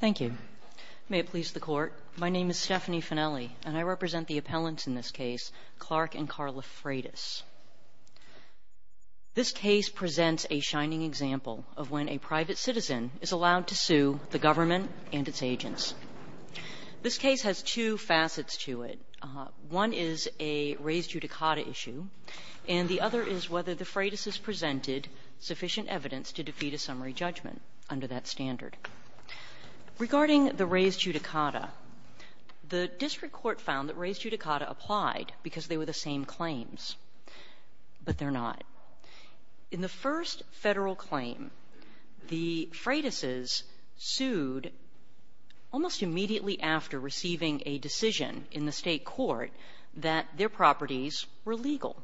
Thank you. May it please the Court, my name is Stephanie Finelli and I represent the appellants in this case, Clark and Carla Fratus. This case presents a shining example of when a private citizen is allowed to sue the government and its agents. This case has two facets to it. One is a raised judicata issue, and the other is whether the Fratus' presented sufficient evidence to defeat a summary judgment under that standard. Regarding the raised judicata, the district court found that raised judicata applied because they were the same claims, but they're not. In the first federal claim, the Fratus' sued almost immediately after receiving a decision in the state court that their properties were legal.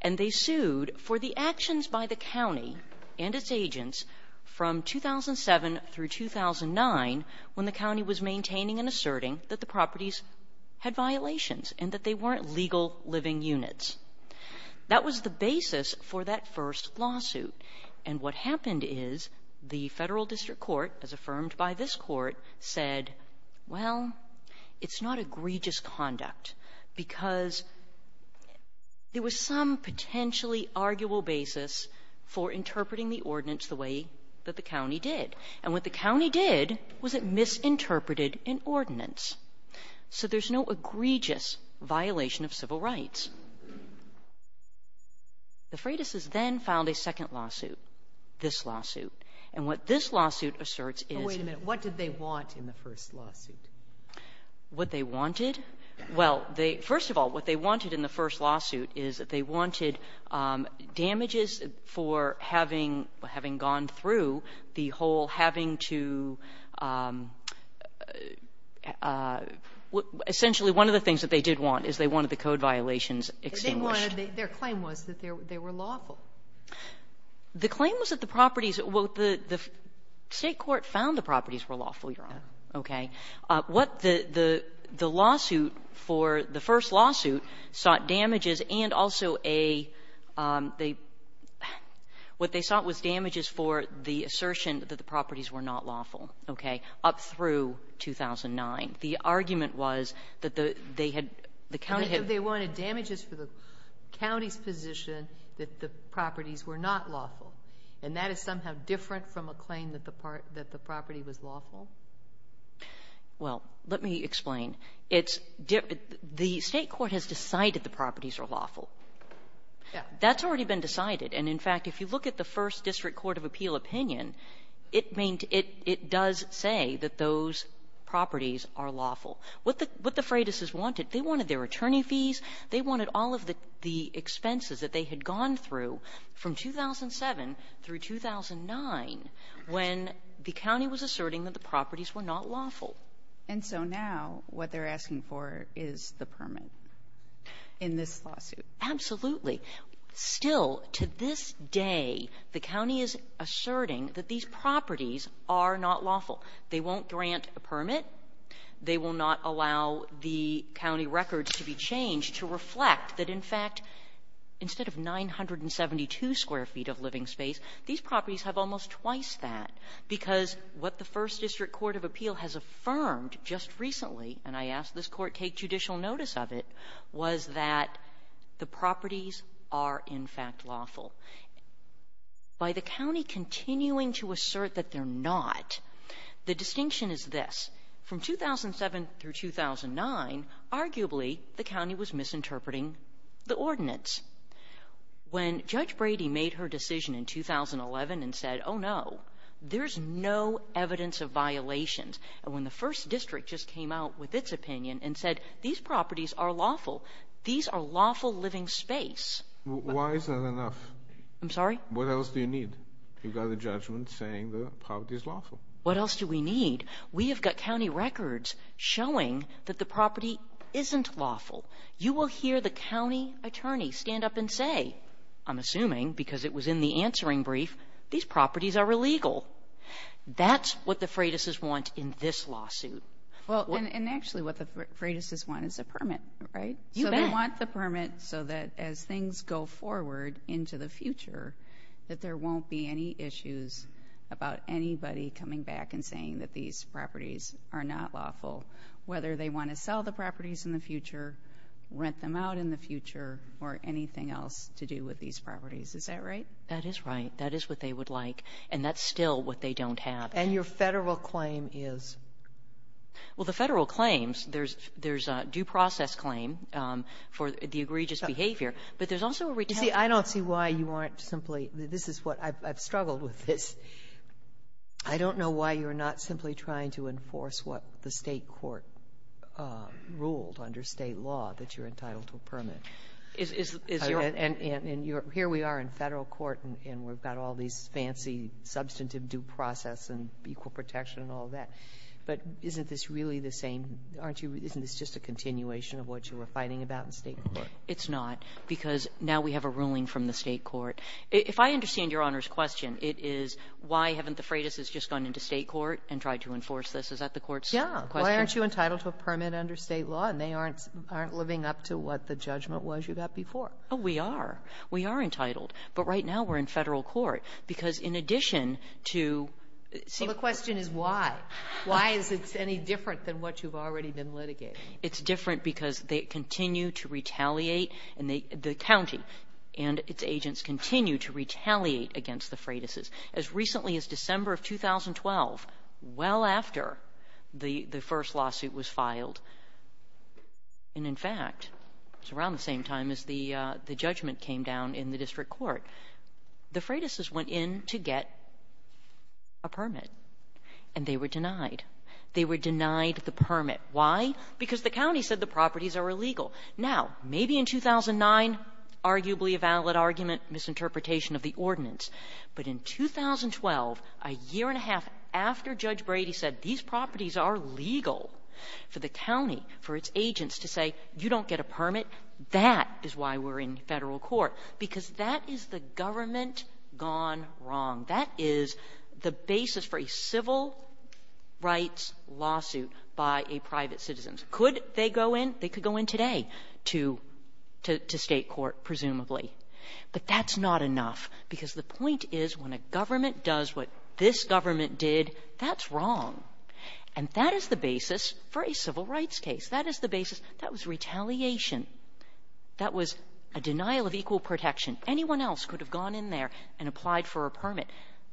And they sued for the actions by the county and its agents from 2007 through 2009 when the county was maintaining and asserting that the properties had violations and that they weren't legal living units. That was the basis for that first lawsuit. And what happened is the federal district court, as affirmed by this court, said, well, it's not egregious conduct because there was some potentially arguable basis for interpreting the ordinance the way that the county did. And what the county did was it misinterpreted an ordinance. So there's no egregious violation of civil rights. The Fratus' then filed a second lawsuit, this lawsuit. And what this lawsuit asserts is — Wait a minute. What did they want in the first lawsuit? What they wanted? Well, first of all, what they wanted in the first lawsuit is that they wanted damages for having gone through the whole having to — essentially, one of the things that they did want is they wanted the code violations extinguished. Their claim was that they were lawful. The claim was that the properties — well, the state court found the properties were lawful, Your Honor. Okay. What the lawsuit for — the first lawsuit sought damages and also a — what they sought was damages for the assertion that the properties were not lawful, okay, up through 2009. The argument was that they had — the county had — Well, let me explain. It's — the state court has decided the properties are lawful. Yeah. That's already been decided. And, in fact, if you look at the first district court of appeal opinion, it does say that those properties are lawful. What the Fratus' wanted, they wanted their attorney fees. They wanted all of the expenses that they had gone through from 2007 through 2009 when the county was asserting that the properties were not lawful. And so now what they're asking for is the permit in this lawsuit. Absolutely. Still, to this day, the county is asserting that these properties are not lawful. They won't grant a permit. They will not allow the county records to be changed to reflect that, in fact, instead of 972 square feet of living space, these properties have almost twice that because what the first district court of appeal has affirmed just recently, and I asked this court take judicial notice of it, was that the properties are, in fact, lawful. By the county continuing to assert that they're not, the distinction is this. From 2007 through 2009, arguably, the county was misinterpreting the ordinance. When Judge Brady made her decision in 2011 and said, oh, no, there's no evidence of violations, and when the first district just came out with its opinion and said, these properties are lawful, these are lawful living space. Why is that enough? I'm sorry? What else do you need? You've got a judgment saying the property is lawful. What else do we need? We have got county records showing that the property isn't lawful. You will hear the county attorney stand up and say, I'm assuming because it was in the answering brief, these properties are illegal. That's what the Freitas' want in this lawsuit. Well, and actually what the Freitas' want is a permit, right? You bet. They want the permit so that as things go forward into the future that there won't be any issues about anybody coming back and saying that these properties are not lawful, whether they want to sell the properties in the future, rent them out in the future, or anything else to do with these properties. Is that right? That is right. That is what they would like, and that's still what they don't have. And your federal claim is? Well, the Federal claims, there's a due process claim for the egregious behavior, but there's also a retaliation. You see, I don't see why you aren't simply this is what I've struggled with this. I don't know why you're not simply trying to enforce what the State court ruled under State law, that you're entitled to a permit. And here we are in Federal court and we've got all these fancy substantive due process and equal protection and all that. But isn't this really the same? Isn't this just a continuation of what you were fighting about in State court? It's not because now we have a ruling from the State court. If I understand Your Honor's question, it is why haven't the Freitas just gone into State court and tried to enforce this? Is that the court's question? Yeah. Why aren't you entitled to a permit under State law and they aren't living up to what the judgment was you got before? We are. We are entitled. But right now we're in Federal court. Because in addition to... Well, the question is why? Why is it any different than what you've already been litigating? It's different because they continue to retaliate and the county and its agents continue to retaliate against the Freitas. As recently as December of 2012, well after the first lawsuit was filed, and in fact, it was around the same time as the judgment came down in the district court, the Freitas went in to get a permit and they were denied. They were denied the permit. Why? Because the county said the properties are illegal. Now, maybe in 2009, arguably a valid argument, misinterpretation of the ordinance. But in 2012, a year and a half after Judge Brady said these properties are legal for the county, for its agents to say you don't get a permit, that is why we're in Federal court. Because that is the government gone wrong. That is the basis for a civil rights lawsuit by a private citizen. Could they go in? They could go in today to State court, presumably. But that's not enough because the point is when a government does what this government did, that's wrong. And that is the basis for a civil rights case. That is the basis. That was retaliation. That was a denial of equal protection. Anyone else could have gone in there and applied for a permit.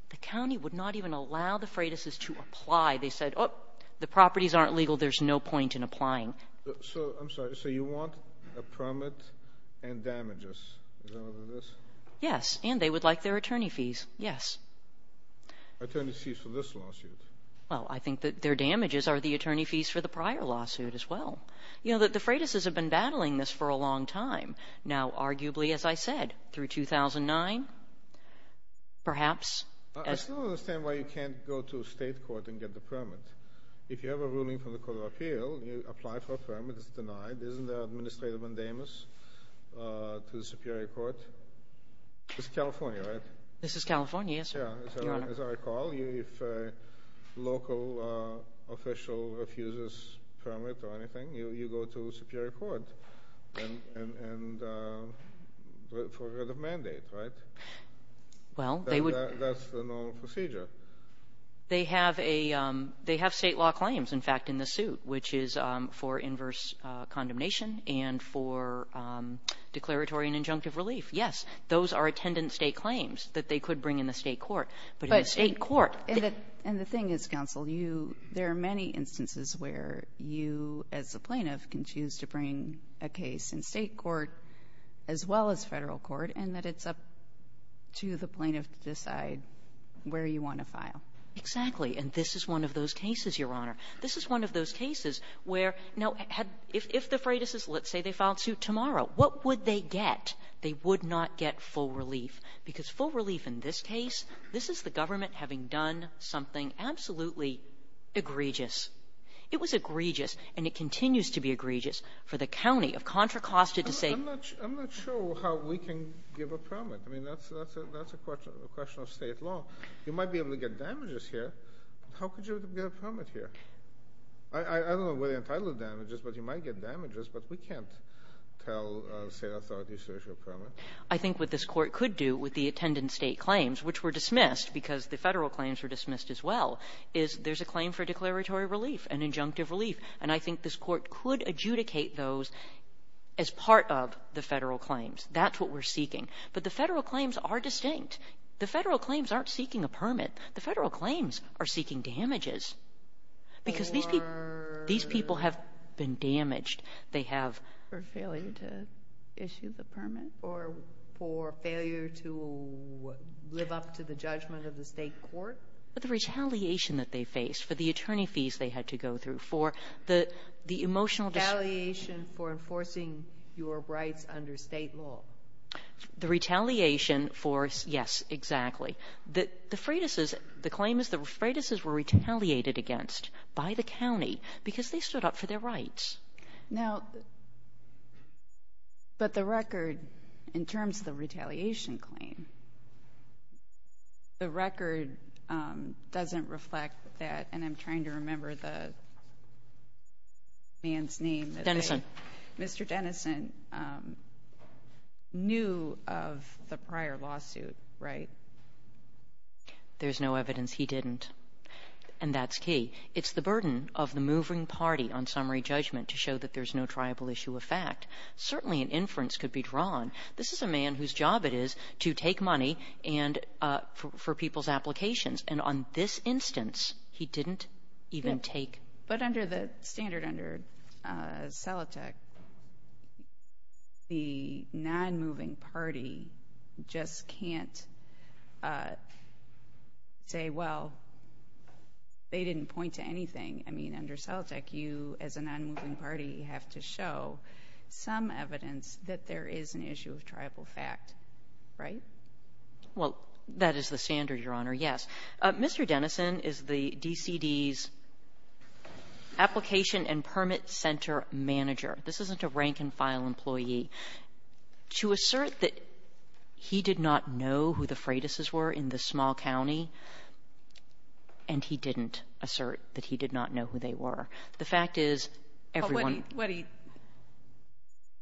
The county would not even allow the Freitas to apply. They said, oh, the properties aren't legal. There's no point in applying. I'm sorry. So you want a permit and damages. Is that what it is? Yes. And they would like their attorney fees. Yes. Attorney fees for this lawsuit. Well, I think that their damages are the attorney fees for the prior lawsuit as well. You know, the Freitas have been battling this for a long time. Now, arguably, as I said, through 2009, perhaps. I still don't understand why you can't go to State court and get the permit. If you have a ruling from the Court of Appeal, you apply for a permit. It's denied. Isn't there an administrative indemnus to the Superior Court? This is California, right? This is California, yes, sir. Your Honor. As I recall, if a local official refuses a permit or anything, you go to the Superior Court for a written mandate, right? Well, they would. That's the normal procedure. They have state law claims, in fact, in the suit, which is for inverse condemnation and for declaratory and injunctive relief. Yes. Those are attendant state claims that they could bring in the state court. But in the state court. And the thing is, counsel, there are many instances where you, as a plaintiff, can choose to bring a case in state court as well as federal court, and that it's up to the plaintiff to decide where you want to file. Exactly. And this is one of those cases, Your Honor. This is one of those cases where, now, if the Freitas' let's say they filed suit tomorrow, what would they get? They would not get full relief. Because full relief in this case, this is the government having done something absolutely egregious. It was egregious, and it continues to be egregious, for the county of Contra Costa to say. I'm not sure how we can give a permit. I mean, that's a question of state law. You might be able to get damages here. How could you get a permit here? I don't know whether you're entitled to damages, but you might get damages. But we can't tell state authorities to issue a permit. I think what this court could do with the attendant state claims, which were dismissed because the federal claims were dismissed as well, is there's a claim for declaratory relief and injunctive relief. And I think this court could adjudicate those as part of the federal claims. That's what we're seeking. But the federal claims are distinct. The federal claims aren't seeking a permit. The federal claims are seeking damages. Because these people have been damaged. They have. For failure to issue the permit? Or for failure to live up to the judgment of the state court? The retaliation that they face for the attorney fees they had to go through, for the emotional distress. Retaliation for enforcing your rights under state law. The retaliation for, yes, exactly. The claim is the Freitas' were retaliated against by the county because they stood up for their rights. Now, but the record in terms of the retaliation claim, the record doesn't reflect that. And I'm trying to remember the man's name. Denison. Mr. Denison knew of the prior lawsuit, right? There's no evidence he didn't. And that's key. It's the burden of the moving party on summary judgment to show that there's no triable issue of fact. Certainly an inference could be drawn. This is a man whose job it is to take money for people's applications. And on this instance, he didn't even take. But under the standard under Celotec, the non-moving party just can't say, well, they didn't point to anything. I mean, under Celotec, you as a non-moving party have to show some evidence that there is an issue of triable fact, right? Well, that is the standard, Your Honor, yes. Mr. Denison is the DCD's application and permit center manager. This isn't a rank-and-file employee. To assert that he did not know who the Freitas' were in this small county, and he didn't assert that he did not know who they were. The fact is, everyone –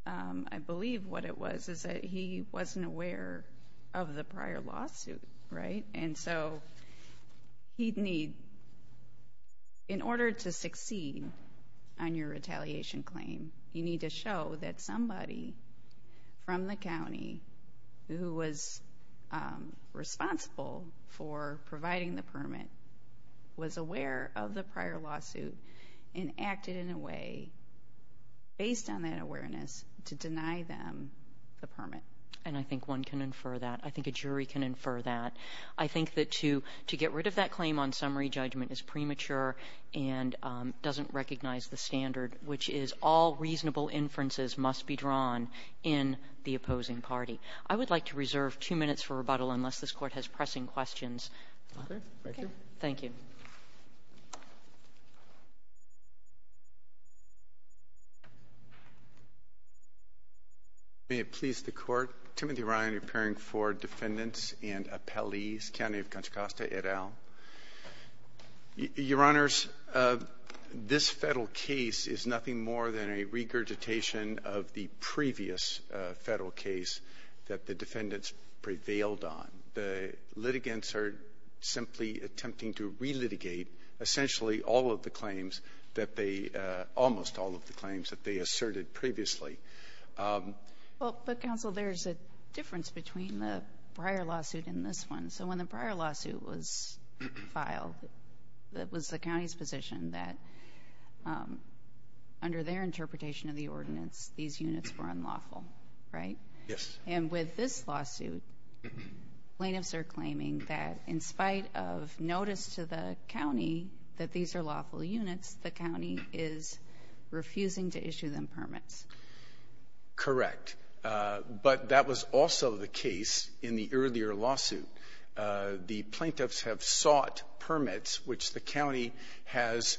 I believe what it was is that he wasn't aware of the prior lawsuit, right? And so he'd need – in order to succeed on your retaliation claim, you need to show that somebody from the county who was responsible for providing the permit was aware of the prior lawsuit and acted in a way, based on that awareness, to deny them the permit. And I think one can infer that. I think a jury can infer that. I think that to get rid of that claim on summary judgment is premature and doesn't recognize the standard, which is all reasonable inferences must be drawn in the opposing party. I would like to reserve two minutes for rebuttal, unless this Court has pressing questions. Okay. Thank you. Thank you. May it please the Court, Timothy Ryan appearing for defendants and appellees, County of Contra Costa, et al. Your Honors, this federal case is nothing more than a regurgitation of the previous federal case that the defendants prevailed on. The litigants are simply attempting to re-litigate, essentially, all of the claims that they – almost all of the claims that they asserted previously. Well, but, Counsel, there's a difference between the prior lawsuit and this one. So when the prior lawsuit was filed, it was the county's position that, under their interpretation of the ordinance, these units were unlawful, right? Yes. And with this lawsuit, plaintiffs are claiming that, in spite of notice to the county that these are lawful units, the county is refusing to issue them permits. Correct. But that was also the case in the earlier lawsuit. The plaintiffs have sought permits, which the county has,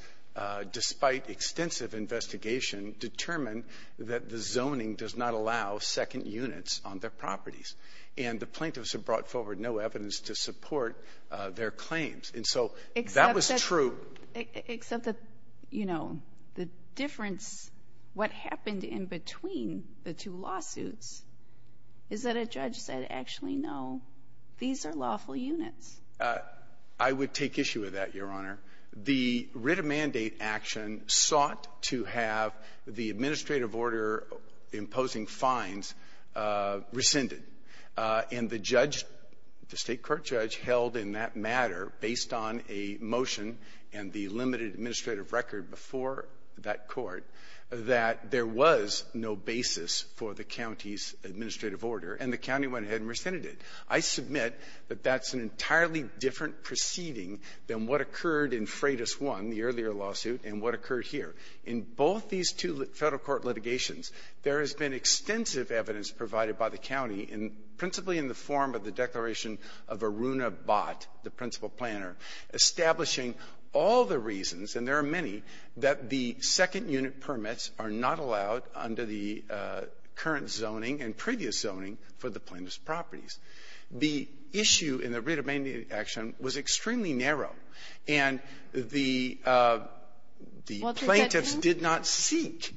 despite extensive investigation, determined that the zoning does not allow second units on their properties, and the plaintiffs have brought forward no evidence to support their claims. And so that was true. Except that, you know, the difference, what happened in between the two lawsuits is that a judge said, actually, no, these are lawful units. I would take issue with that, Your Honor. The writ of mandate action sought to have the administrative order imposing fines rescinded. And the judge, the state court judge, held in that matter, based on a motion and the limited administrative record before that court, that there was no basis for the county's administrative order, and the county went ahead and rescinded it. I submit that that's an entirely different proceeding than what occurred in Freitas 1, the earlier lawsuit, and what occurred here. In both these two federal court litigations, there has been extensive evidence provided by the county, principally in the form of the declaration of Aruna Bott, the principal planner, establishing all the reasons, and there are many, that the second unit permits are not allowed under the current zoning and previous zoning for the plaintiff's properties. The issue in the writ of mandate action was extremely narrow. And the plaintiffs did not seek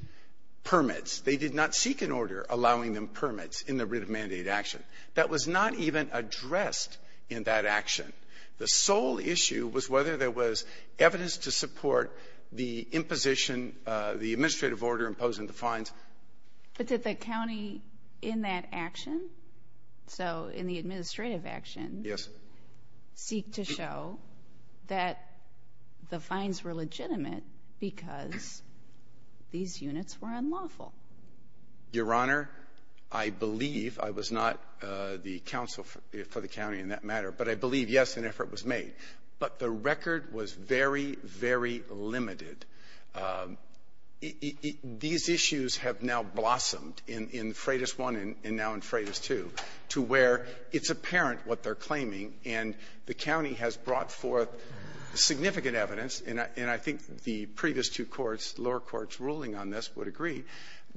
permits. They did not seek an order allowing them permits in the writ of mandate action. That was not even addressed in that action. The sole issue was whether there was evidence to support the imposition, the administrative order imposing the fines. But did the county in that action, so in the administrative action, seek to show that the fines were legitimate because these units were unlawful? Your Honor, I believe, I was not the counsel for the county in that matter, but I believe, yes, an effort was made. But the record was very, very limited. These issues have now blossomed in Freitas I and now in Freitas II to where it's apparent what they're claiming, and the county has brought forth significant evidence, and I think the previous two courts, lower court's ruling on this would agree,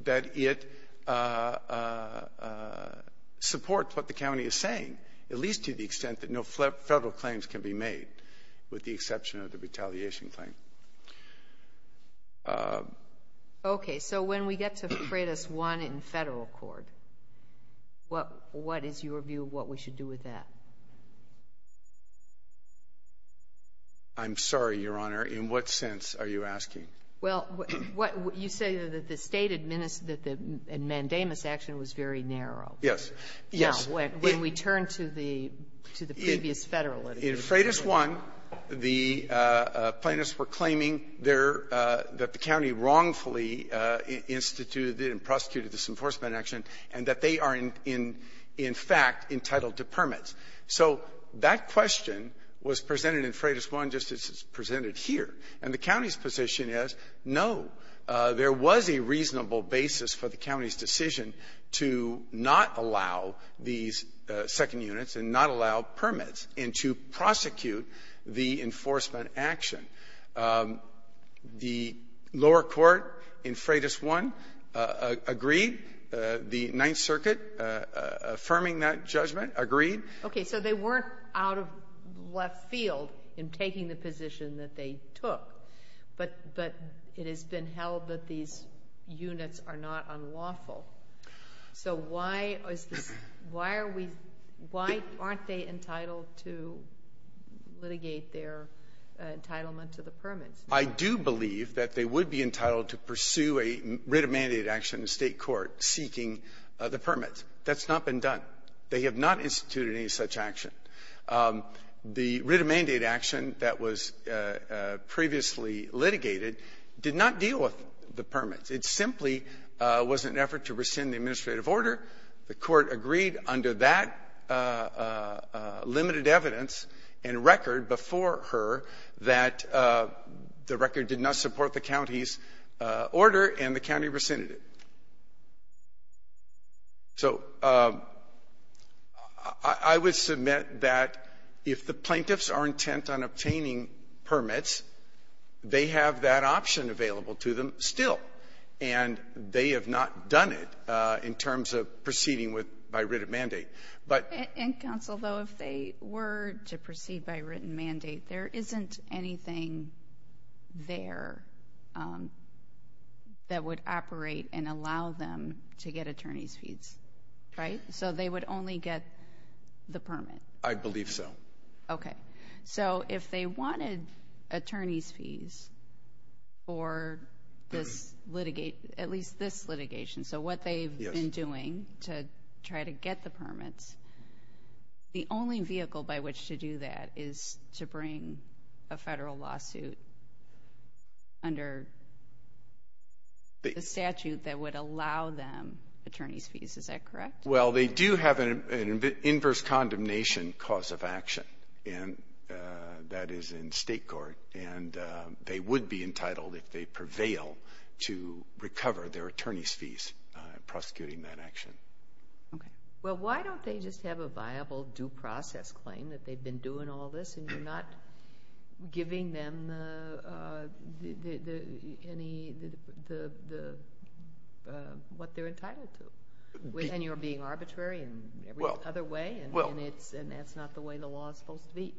that it supports what the county is saying, at least to the extent that no Federal claims can be made, with the exception of the retaliation claim. Okay. So when we get to Freitas I in Federal court, what is your view of what we should do with that? I'm sorry, Your Honor. In what sense are you asking? Well, you say that the state and mandamus action was very narrow. Yes. Yes. When we turn to the previous Federal litigation. In Freitas I, the plaintiffs were claiming there that the county wrongfully instituted and prosecuted this enforcement action and that they are in fact entitled to permits. So that question was presented in Freitas I just as it's presented here. And the county's position is, no, there was a reasonable basis for the county's decision to not allow these second units and not allow permits and to prosecute the enforcement action. The lower court in Freitas I agreed. The Ninth Circuit, affirming that judgment, agreed. Okay. So they weren't out of left field in taking the position that they took. But it has been held that these units are not unlawful. So why aren't they entitled to litigate their entitlement to the permits? I do believe that they would be entitled to pursue a writ of mandate action in the state court seeking the permits. That's not been done. They have not instituted any such action. The writ of mandate action that was previously litigated did not deal with the permits. It simply was an effort to rescind the administrative order. The court agreed under that limited evidence and record before her that the record did not support the county's order and the county rescinded it. So I would submit that if the plaintiffs are intent on obtaining permits, they have that option available to them still. And they have not done it in terms of proceeding by writ of mandate. And, counsel, though, if they were to proceed by writ of mandate, there isn't anything there that would operate and allow them to get attorney's fees, right? So they would only get the permit. I believe so. Okay. So if they wanted attorney's fees for this litigation, at least this litigation, so what they've been doing to try to get the permits, the only vehicle by which to do that is to bring a federal lawsuit under the statute that would allow them attorney's fees, is that correct? Well, they do have an inverse condemnation cause of action. And that is in state court. And they would be entitled, if they prevail, to recover their attorney's fees prosecuting that action. Okay. So why don't they just have a viable due process claim that they've been doing all this and you're not giving them any of what they're entitled to? And you're being arbitrary in every other way, and that's not the way the law is supposed to be.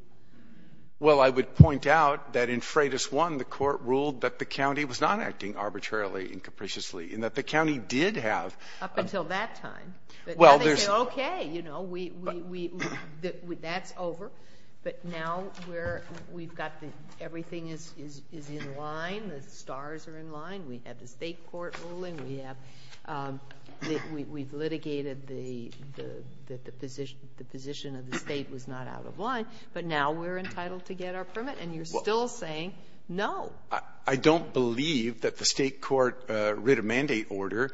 Well, I would point out that in Freitas 1, the court ruled that the county was not acting arbitrarily and capriciously, and that the county did have up until that time. Well, there's Okay, you know, that's over. But now we've got everything is in line, the stars are in line. We have the state court ruling. We've litigated that the position of the state was not out of line. But now we're entitled to get our permit, and you're still saying no. I don't believe that the state court writ of mandate order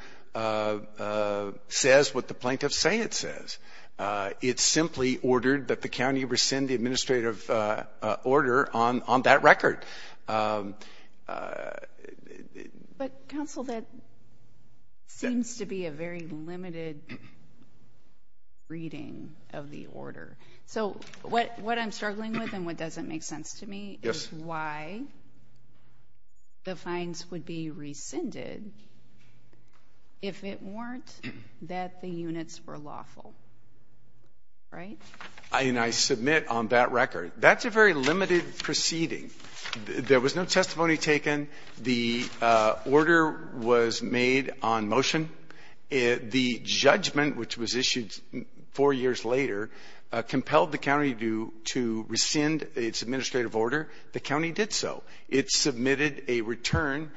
says what the plaintiffs say it says. It simply ordered that the county rescind the administrative order on that record. But, counsel, that seems to be a very limited reading of the order. So what I'm struggling with and what doesn't make sense to me is why the fines would be rescinded if it weren't that the units were lawful. Right? And I submit on that record, that's a very limited proceeding. There was no testimony taken. The order was made on motion. The judgment, which was issued four years later, compelled the county to rescind its administrative order. The county did so. It submitted a return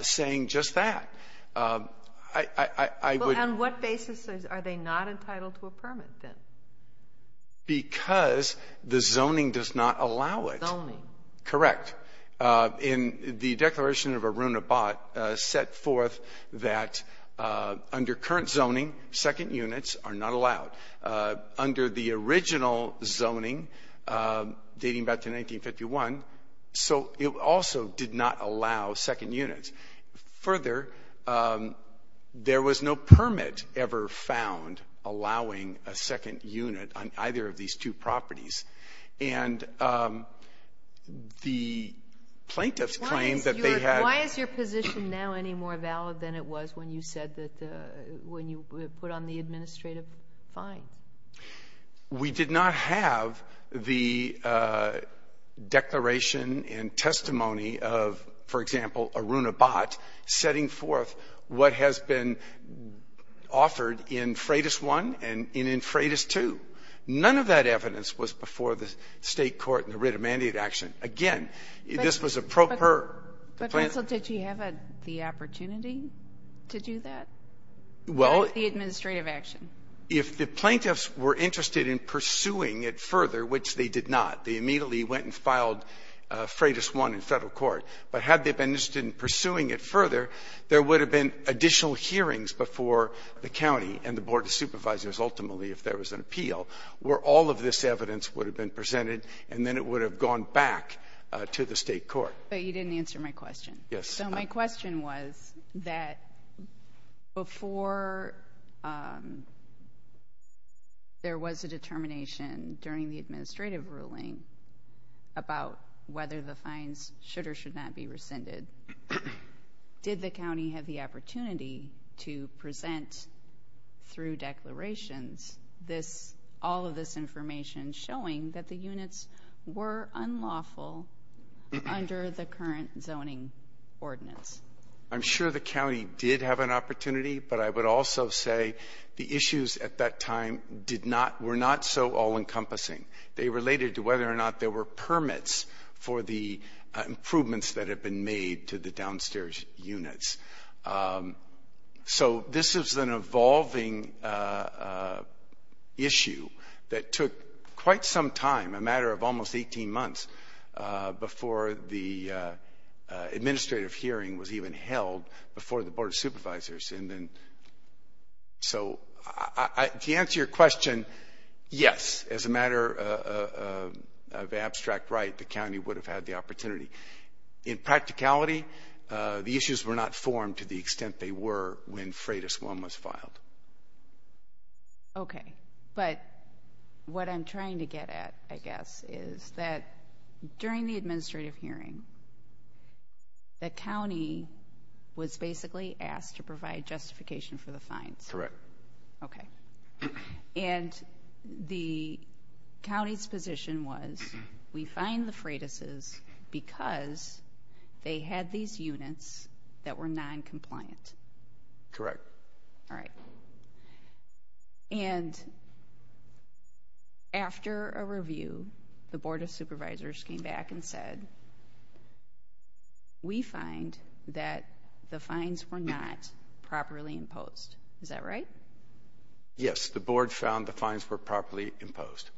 saying just that. On what basis are they not entitled to a permit, then? Because the zoning does not allow it. Zoning. Correct. And the Declaration of Arunabhat set forth that under current zoning, second units are not allowed. Under the original zoning, dating back to 1951, so it also did not allow second units. Further, there was no permit ever found allowing a second unit on either of these two properties. And the plaintiffs claimed that they had. Why is your position now any more valid than it was when you said that the, when you put on the administrative fine? We did not have the declaration and testimony of, for example, Arunabhat setting forth what has been offered in Freitas 1 and in Freitas 2. None of that evidence was before the state court in the writ of mandate action. Again, this was a proper. But, counsel, did you have the opportunity to do that? Well. The administrative action. If the plaintiffs were interested in pursuing it further, which they did not, they immediately went and filed Freitas 1 in federal court. But had they been interested in pursuing it further, there would have been additional hearings before the county and the Board of Supervisors ultimately if there was an appeal where all of this evidence would have been presented and then it would have gone back to the state court. But you didn't answer my question. Yes. So my question was that before there was a determination during the administrative ruling about whether the fines should or should not be rescinded, did the county have the opportunity to present through declarations all of this information showing that the units were unlawful under the current zoning ordinance? I'm sure the county did have an opportunity, but I would also say the issues at that time were not so all-encompassing. They related to whether or not there were permits for the improvements that had been made to the downstairs units. So this is an evolving issue that took quite some time, a matter of almost 18 months, before the administrative hearing was even held before the Board of Supervisors. So to answer your question, yes, as a matter of abstract right, the county would have had the opportunity. In practicality, the issues were not formed to the extent they were when Freitas 1 was filed. Okay. But what I'm trying to get at, I guess, is that during the administrative hearing, the county was basically asked to provide justification for the fines. Correct. Okay. And the county's position was we fine the Freitas' because they had these units that were noncompliant. Correct. All right. And after a review, the Board of Supervisors came back and said, we find that the fines were not properly imposed. Is that right? Yes. The Board found the fines were properly imposed.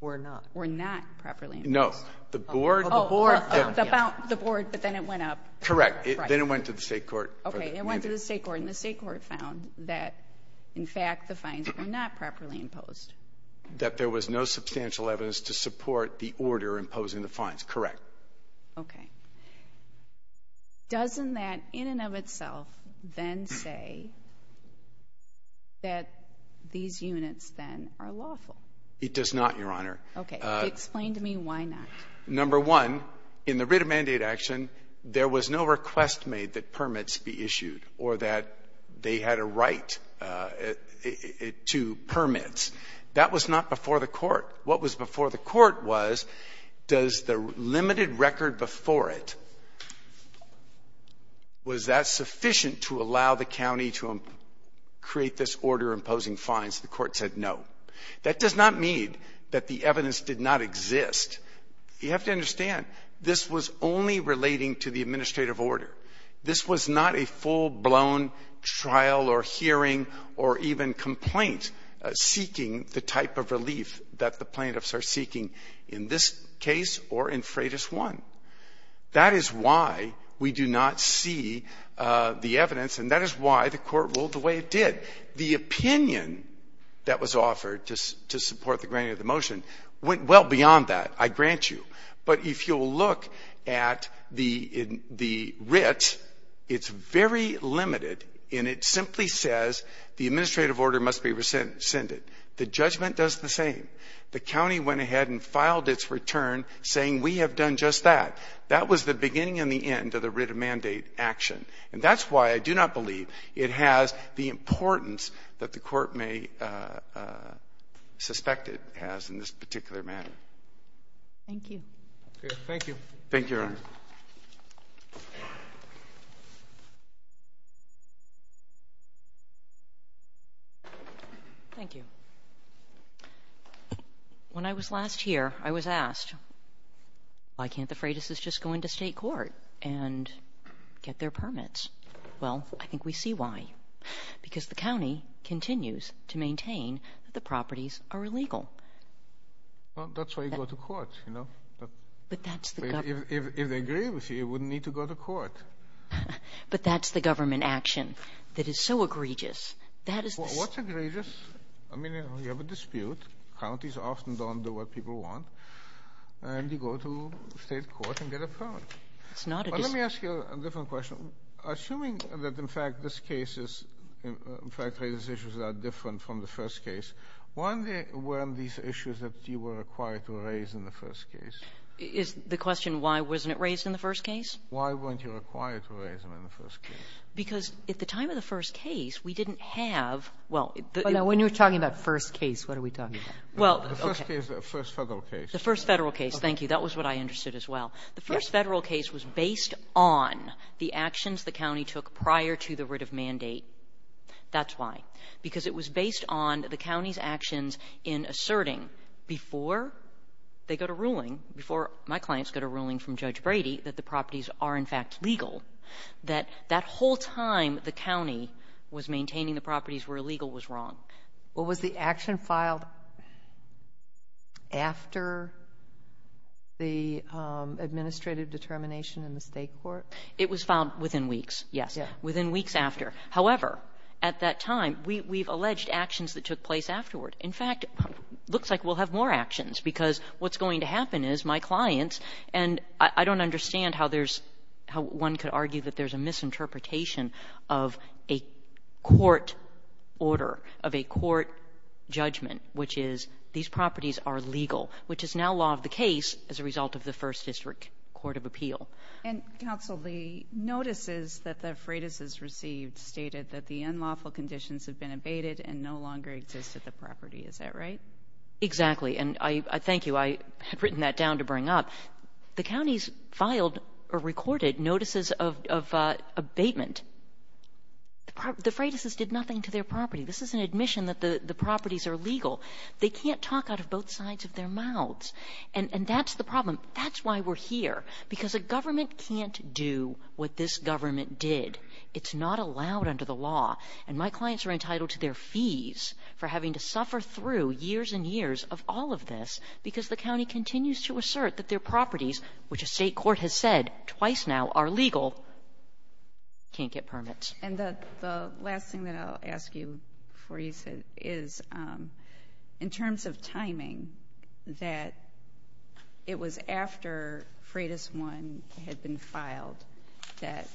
Were not. Were not properly imposed. No. The Board. The Board, but then it went up. Correct. Then it went to the state court. Okay. It went to the state court, and the state court found that, in fact, the fines were not properly imposed. That there was no substantial evidence to support the order imposing the fines. Correct. Okay. Doesn't that, in and of itself, then say that these units, then, are lawful? It does not, Your Honor. Okay. Explain to me why not. Number one, in the writ of mandate action, there was no request made that permits be issued or that they had a right to permits. That was not before the court. What was before the court was, does the limited record before it, was that sufficient to allow the county to create this order imposing fines? The court said no. That does not mean that the evidence did not exist. You have to understand, this was only relating to the administrative order. This was not a full-blown trial or hearing or even complaint seeking the type of relief that the plaintiffs are seeking in this case or in Freitas 1. That is why we do not see the evidence, and that is why the court ruled the way it did. The opinion that was offered to support the granting of the motion went well beyond that, I grant you. But if you'll look at the writ, it's very limited, and it simply says the administrative order must be rescinded. The judgment does the same. The county went ahead and filed its return saying we have done just that. That was the beginning and the end of the writ of mandate action, and that's why I do not believe it has the importance that the court may suspect it has in this particular matter. Thank you. Thank you. Thank you, Your Honor. Thank you. Thank you. When I was last here, I was asked, why can't the Freitas' just go into state court and get their permits? Well, I think we see why, because the county continues to maintain that the properties are illegal. Well, that's why you go to court, you know. But that's the government. If they agree with you, you wouldn't need to go to court. But that's the government action that is so egregious. What's egregious? I mean, you have a dispute. Counties often don't do what people want, and you go to state court and get a permit. Let me ask you a different question. Assuming that, in fact, this case is, in fact, these issues are different from the first case, why weren't these issues that you were required to raise in the first case? Is the question why wasn't it raised in the first case? Why weren't you required to raise them in the first case? Because at the time of the first case, we didn't have — Well, now, when you're talking about first case, what are we talking about? Well, okay. The first case, the first Federal case. The first Federal case, thank you. That was what I understood as well. The first Federal case was based on the actions the county took prior to the writ of mandate. That's why. Because it was based on the county's actions in asserting before they got a ruling, before my clients got a ruling from Judge Brady that the properties are, in fact, legal, that that whole time the county was maintaining the properties were illegal was wrong. Well, was the action filed after the administrative determination in the state court? It was filed within weeks, yes, within weeks after. However, at that time, we've alleged actions that took place afterward. In fact, it looks like we'll have more actions because what's going to happen is my clients and I don't understand how one could argue that there's a misinterpretation of a court order, of a court judgment, which is these properties are legal, which is now law of the case as a result of the First District Court of Appeal. And, counsel, the notices that the freighters received stated that the unlawful conditions have been abated and no longer exist at the property. Is that right? Exactly. And I thank you. I had written that down to bring up. The counties filed or recorded notices of abatement. The freighters did nothing to their property. This is an admission that the properties are legal. They can't talk out of both sides of their mouths. And that's the problem. That's why we're here, because a government can't do what this government did. It's not allowed under the law. And my clients are entitled to their fees for having to suffer through years and years of all of this because the county continues to assert that their properties, which a state court has said twice now are legal, can't get permits. And the last thing that I'll ask you before you sit is, in terms of timing, that it was after Freighters 1 had been filed that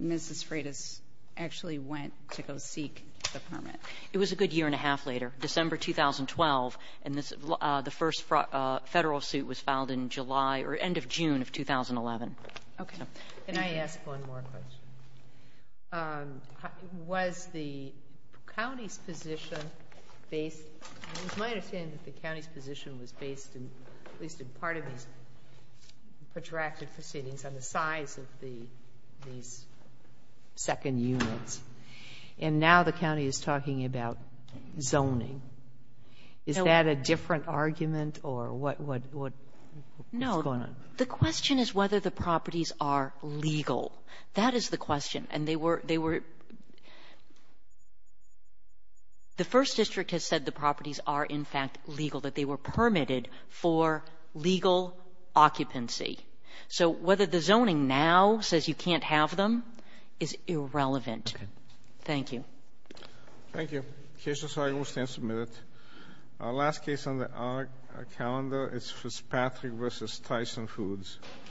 Mrs. Freighters actually went to go seek the permit. It was a good year and a half later, December 2012, and the first federal suit was filed in July or end of June of 2011. Okay. Can I ask one more question? Was the county's position based, it was my understanding that the county's position was based, at least in part of these protracted proceedings, on the size of these second units. And now the county is talking about zoning. Is that a different argument or what is going on? The question is whether the properties are legal. That is the question. And they were the first district has said the properties are, in fact, legal, that they were permitted for legal occupancy. So whether the zoning now says you can't have them is irrelevant. Okay. Thank you. Thank you. The case is signed and will stand submitted. Our last case on the calendar is Fitzpatrick versus Tyson Foods.